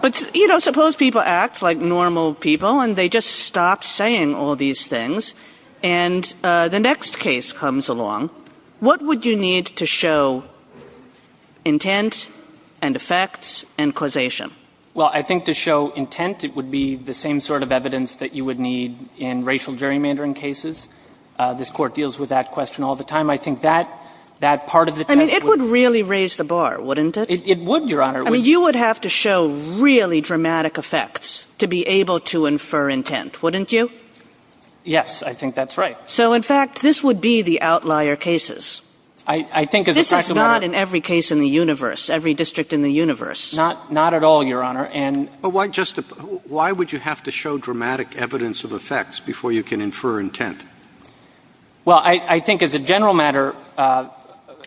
But, you know, suppose people act like normal people and they just stop saying all these things, and the next case comes along. What would you need to show intent and effects and causation? Well, I think to show intent, it would be the same sort of evidence that you would need in racial gerrymandering cases. This Court deals with that question all the time. I think that part of the test would be the same. I mean, it would really raise the bar, wouldn't it? It would, Your Honor. I mean, you would have to show really dramatic effects to be able to infer intent, wouldn't you? Yes, I think that's right. So, in fact, this would be the outlier cases. I think, as a matter of fact, Your Honor This is not in every case in the universe, every district in the universe. Not at all, Your Honor. And why would you have to show dramatic evidence of effects before you can infer intent? Well, I think, as a general matter,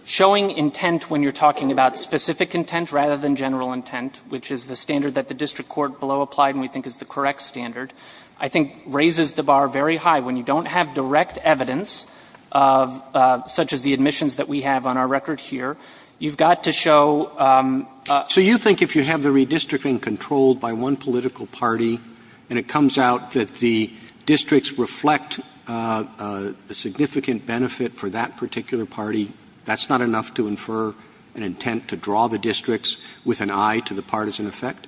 showing intent when you're talking about specific intent rather than general intent, which is the standard that the district court below applied and we think is the correct standard, I think raises the bar very high. When you don't have direct evidence, such as the admissions that we have on our record here, you've got to show So you think if you have the redistricting controlled by one political party and it has a significant benefit for that particular party, that's not enough to infer an intent to draw the districts with an eye to the partisan effect?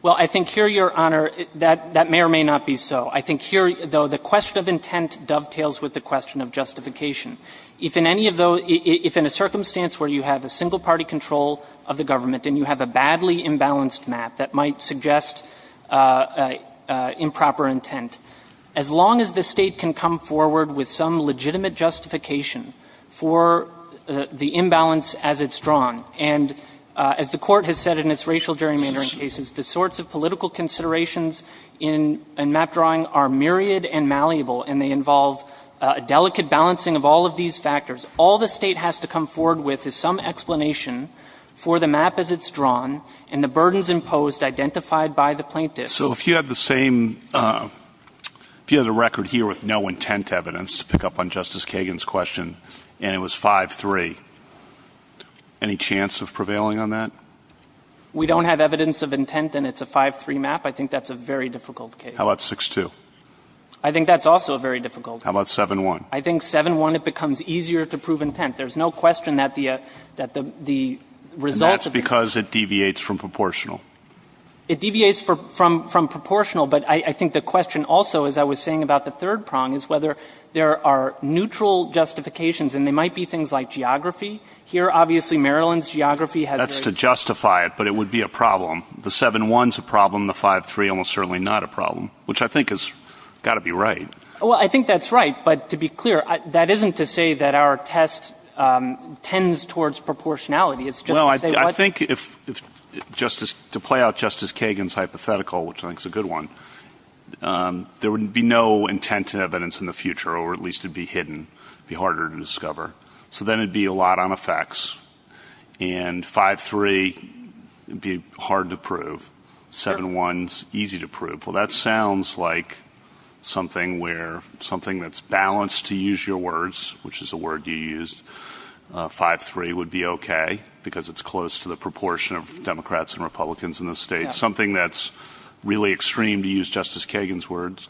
Well, I think here, Your Honor, that may or may not be so. I think here, though, the question of intent dovetails with the question of justification. If in any of those If in a circumstance where you have a single party control of the government and you have a badly imbalanced map that might suggest improper intent, as long as the state can come forward with some legitimate justification for the imbalance as it's drawn, and as the Court has said in its racial gerrymandering cases, the sorts of political considerations in map drawing are myriad and malleable, and they involve a delicate balancing of all of these factors, all the state has to come forward with is some explanation for the map as it's drawn and the burdens imposed identified by the plaintiff. So if you had the same, if you had a record here with no intent evidence, to pick up on Justice Kagan's question, and it was 5-3, any chance of prevailing on that? We don't have evidence of intent and it's a 5-3 map. I think that's a very difficult case. How about 6-2? I think that's also very difficult. How about 7-1? I think 7-1, it becomes easier to prove intent. There's no question that the result of the And that's because it deviates from proportional. It deviates from proportional, but I think the question also, as I was saying about the third prong, is whether there are neutral justifications, and they might be things like geography. Here, obviously, Maryland's geography has very That's to justify it, but it would be a problem. The 7-1 is a problem. The 5-3, almost certainly not a problem, which I think has got to be right. Well, I think that's right, but to be clear, that isn't to say that our test tends towards proportionality. I think to play out Justice Kagan's hypothetical, which I think is a good one, there would be no intent and evidence in the future, or at least it would be hidden, be harder to discover. So then it would be a lot on effects, and 5-3, it would be hard to prove, 7-1 is easy to prove. Well, that sounds like something that's balanced, to use your words, which is a word you used, 5-3 would be okay, because it's close to the proportion of Democrats and Republicans in the state. Something that's really extreme, to use Justice Kagan's words,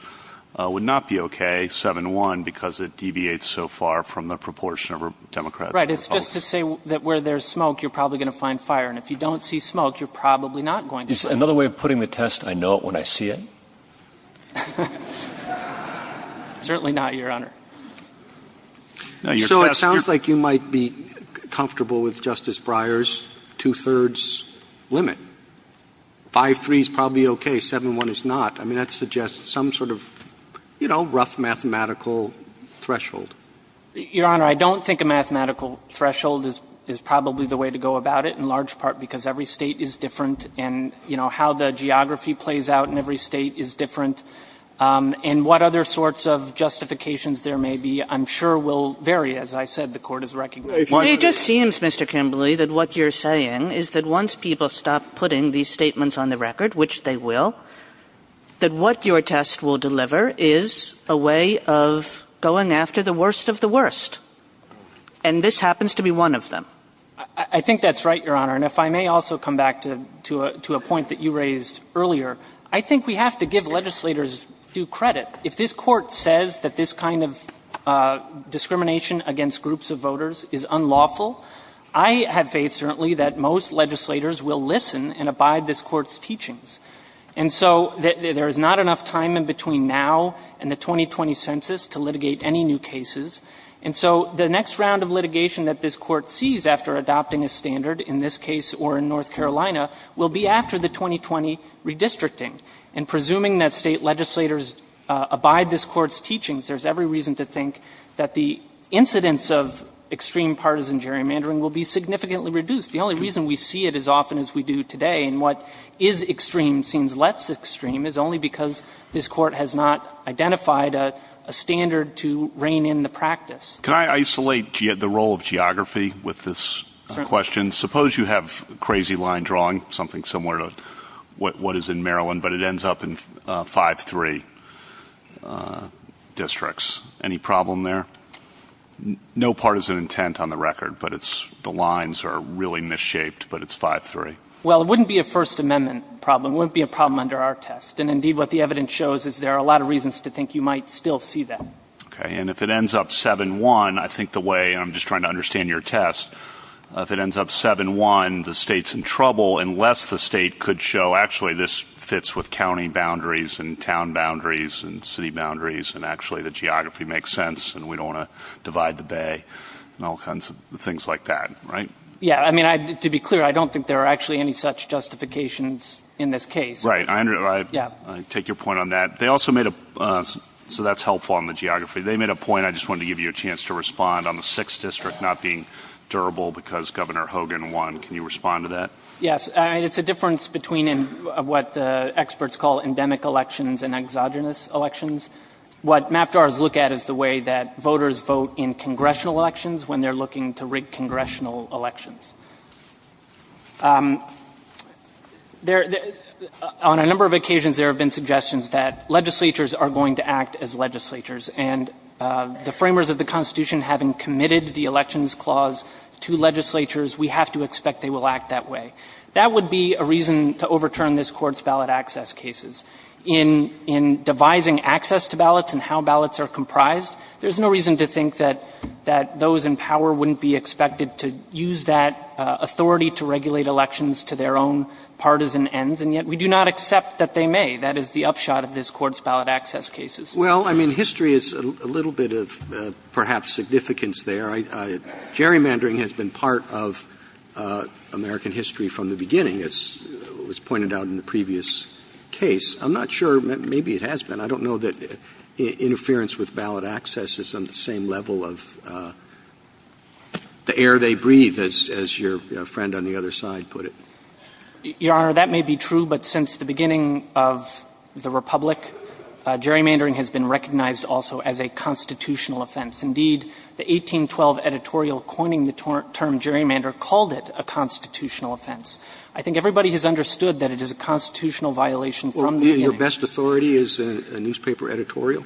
would not be okay, 7-1, because it deviates so far from the proportion of Democrats and Republicans. Right, it's just to say that where there's smoke, you're probably going to find fire, and if you don't see smoke, you're probably not going to. Is another way of putting the test, I know it when I see it? Certainly not, Your Honor. So it sounds like you might be comfortable with Justice Breyer's two-thirds limit. 5-3 is probably okay, 7-1 is not. I mean, that suggests some sort of, you know, rough mathematical threshold. Your Honor, I don't think a mathematical threshold is probably the way to go about it, in large part because every state is different, and, you know, how the geography plays out in every state is different. And what other sorts of justifications there may be, I'm sure, will vary, as I said, the Court has recognized. Well, it just seems, Mr. Kimberley, that what you're saying is that once people stop putting these statements on the record, which they will, that what your test will deliver is a way of going after the worst of the worst, and this happens to be one of them. I think that's right, Your Honor. And if I may also come back to a point that you raised earlier, I think we have to give legislators due credit. If this Court says that this kind of discrimination against groups of voters is unlawful, I have faith, certainly, that most legislators will listen and abide this Court's teachings. And so there is not enough time in between now and the 2020 census to litigate any new cases. And so the next round of litigation that this Court sees after adopting a standard in this case or in North Carolina will be after the 2020 redistricting, and presuming that state legislators abide this Court's teachings, there's every reason to think that the incidence of extreme partisan gerrymandering will be significantly reduced. The only reason we see it as often as we do today, and what is extreme seems less extreme, is only because this Court has not identified a standard to rein in the practice. Can I isolate the role of geography with this question? Suppose you have a crazy line drawing, something similar to what is in Maryland, but it ends up in 5-3 districts. Any problem there? No partisan intent on the record, but the lines are really misshaped, but it's 5-3. Well, it wouldn't be a First Amendment problem. It wouldn't be a problem under our test. And indeed, what the evidence shows is there are a lot of reasons to think you might still see that. Okay. And if it ends up 7-1, I think the way, and I'm just trying to understand your test, if it ends up 7-1, the state's in trouble unless the state could show, actually, this fits with county boundaries, and town boundaries, and city boundaries, and actually the geography makes sense, and we don't want to divide the bay, and all kinds of things like that, right? Yeah. I mean, to be clear, I don't think there are actually any such justifications in this case. Right. I take your point on that. They also made a, so that's helpful on the geography. They made a point, I just wanted to give you a chance to respond, on the 6th district not being durable because Governor Hogan won. Can you respond to that? Yes. It's a difference between what the experts call endemic elections and exogenous elections. What MAPDARs look at is the way that voters vote in congressional elections when they're looking to rig congressional elections. On a number of occasions, there have been suggestions that legislatures are going to act as legislatures, and the framers of the Constitution, having committed the elections clause to legislatures, we have to expect they will act that way. That would be a reason to overturn this Court's ballot access cases. In devising access to ballots and how ballots are comprised, there's no reason to think that those in power wouldn't be expected to use that authority to regulate elections to their own partisan ends, and yet we do not accept that they may. That is the upshot of this Court's ballot access cases. Well, I mean, history is a little bit of perhaps significance there. Gerrymandering has been part of American history from the beginning, as was pointed out in the previous case. I'm not sure. Maybe it has been. I don't know that interference with ballot access is on the same level of the air they breathe, as your friend on the other side put it. Your Honor, that may be true, but since the beginning of the Republic, gerrymandering has been recognized also as a constitutional offense. Indeed, the 1812 editorial coining the term gerrymander called it a constitutional offense. I think everybody has understood that it is a constitutional violation from the beginning. Your best authority is a newspaper editorial?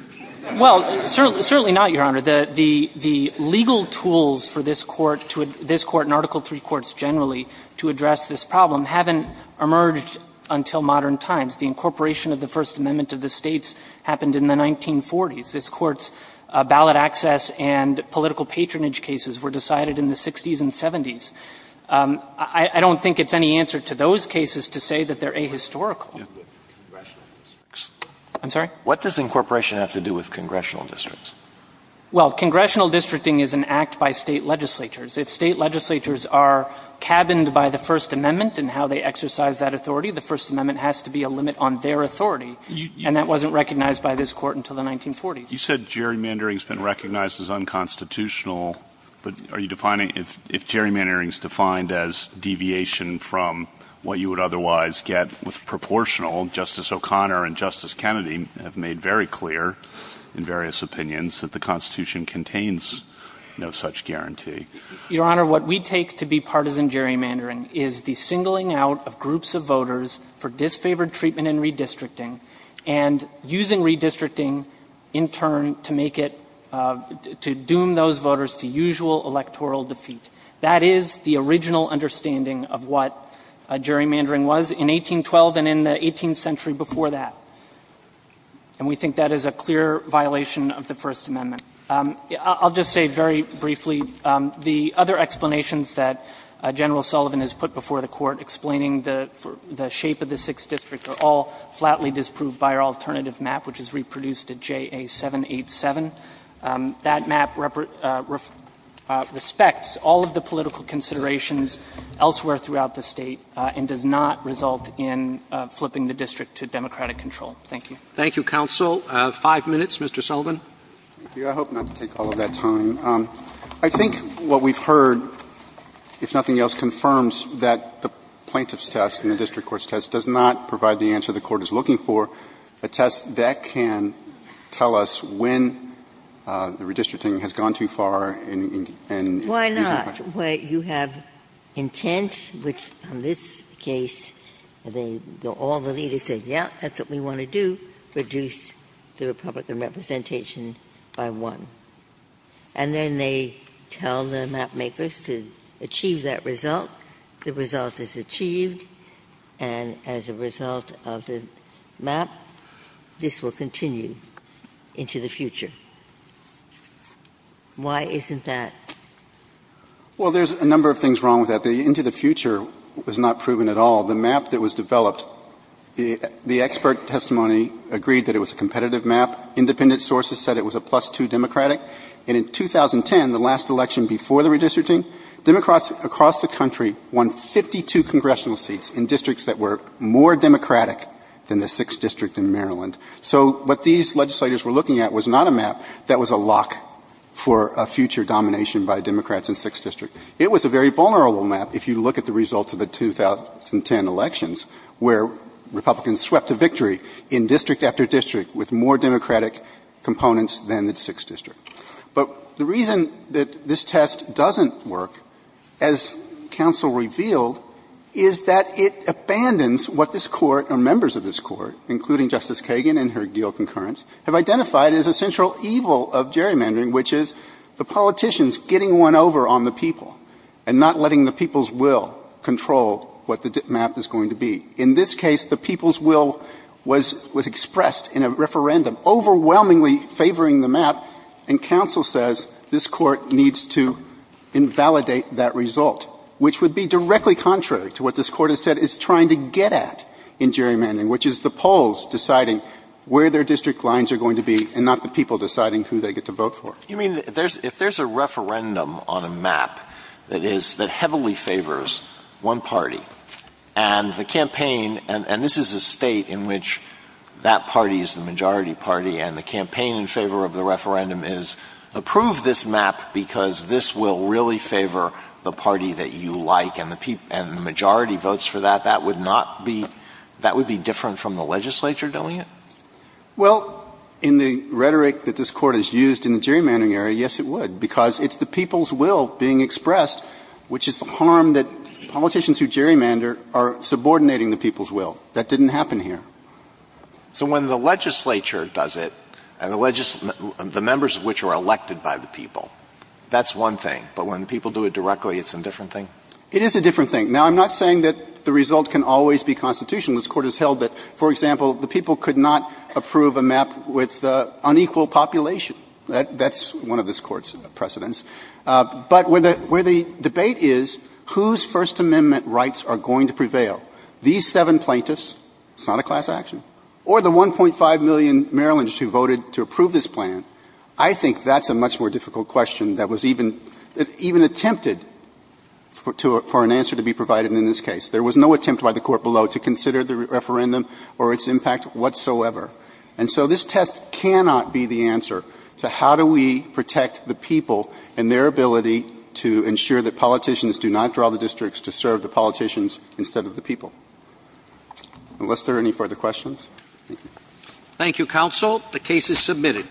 Well, certainly not, Your Honor. The legal tools for this Court and Article III courts generally to address this problem haven't emerged until modern times. The incorporation of the First Amendment to the States happened in the 1940s. This Court's ballot access and political patronage cases were decided in the 60s and 70s. I don't think it's any answer to those cases to say that they're ahistorical. I'm sorry? What does incorporation have to do with congressional districts? Well, congressional districting is an act by State legislatures. If State legislatures are cabined by the First Amendment and how they exercise that authority, the First Amendment has to be a limit on their authority. And that wasn't recognized by this Court until the 1940s. You said gerrymandering has been recognized as unconstitutional. But are you defining if gerrymandering is defined as deviation from what you would otherwise get with proportional? Justice O'Connor and Justice Kennedy have made very clear in various opinions that the Constitution contains no such guarantee. Your Honor, what we take to be partisan gerrymandering is the singling out of groups of voters for disfavored treatment in redistricting, and using redistricting in turn to make it to doom those voters to usual electoral defeat. That is the original understanding of what gerrymandering was in 1812 and in the 18th century before that. And we think that is a clear violation of the First Amendment. I'll just say very briefly, the other explanations that General Sullivan has put before the Court explaining the shape of the Sixth District are all flatly disproved by our alternative map, which is reproduced at JA 787. That map respects all of the political considerations elsewhere throughout the State and does not result in flipping the district to democratic control. Thank you. Roberts. Thank you, counsel. Five minutes, Mr. Sullivan. Thank you. I hope not to take all of that time. I think what we've heard, if nothing else, confirms that the plaintiff's test and the district court's test does not provide the answer the Court is looking for, a test that can tell us when the redistricting has gone too far and isn't questioned. Why not, where you have intent, which in this case, all the leaders say, yes, that's what we want to do, reduce the Republican representation by one. And then they tell the mapmakers to achieve that result. The result is achieved, and as a result of the map, this will continue into the future. Why isn't that? Well, there's a number of things wrong with that. The into the future was not proven at all. The map that was developed, the expert testimony agreed that it was a competitive map. Independent sources said it was a plus-two Democratic. And in 2010, the last election before the redistricting, Democrats across the country won 52 congressional seats in districts that were more Democratic than the 6th District in Maryland. So what these legislators were looking at was not a map that was a lock for a future domination by Democrats in 6th District. It was a very vulnerable map, if you look at the results of the 2010 elections, where Republicans swept a victory in district after district with more Democratic components than the 6th District. But the reason that this test doesn't work, as counsel revealed, is that it abandons what this Court or members of this Court, including Justice Kagan and her deal concurrence, have identified as a central evil of gerrymandering, which is the politicians getting one over on the people and not letting the people's will control what the map is going to be. In this case, the people's will was expressed in a referendum, overwhelmingly favoring the map, and counsel says this Court needs to invalidate that result, which would be directly contrary to what this Court has said it's trying to get at in gerrymandering, which is the polls deciding where their district lines are going to be and not the people deciding who they get to vote for. You mean, if there's a referendum on a map that is — that heavily favors one party, and the campaign — and this is a State in which that party is the majority party, and the campaign in favor of the referendum is approve this map because this will really favor the party that you like and the majority votes for that, that would not be — that would be different from the legislature doing it? Well, in the rhetoric that this Court has used in the gerrymandering area, yes, it would, because it's the people's will being expressed, which is the harm that politicians who gerrymander are subordinating the people's will. That didn't happen here. So when the legislature does it, and the members of which are elected by the people, that's one thing, but when people do it directly, it's a different thing? It is a different thing. Now, I'm not saying that the result can always be constitutional. This Court has held that, for example, the people could not approve a map with unequal population. That's one of this Court's precedents. But where the debate is whose First Amendment rights are going to prevail, these seven plaintiffs, it's not a class action, or the 1.5 million Marylanders who voted to approve this plan, I think that's a much more difficult question that was even attempted for an answer to be provided in this case. There was no attempt by the Court below to consider the referendum or its impact whatsoever. And so this test cannot be the answer to how do we protect the people and their ability to ensure that politicians do not draw the districts to serve the politicians instead of the people. Unless there are any further questions? Thank you, counsel. The case is submitted.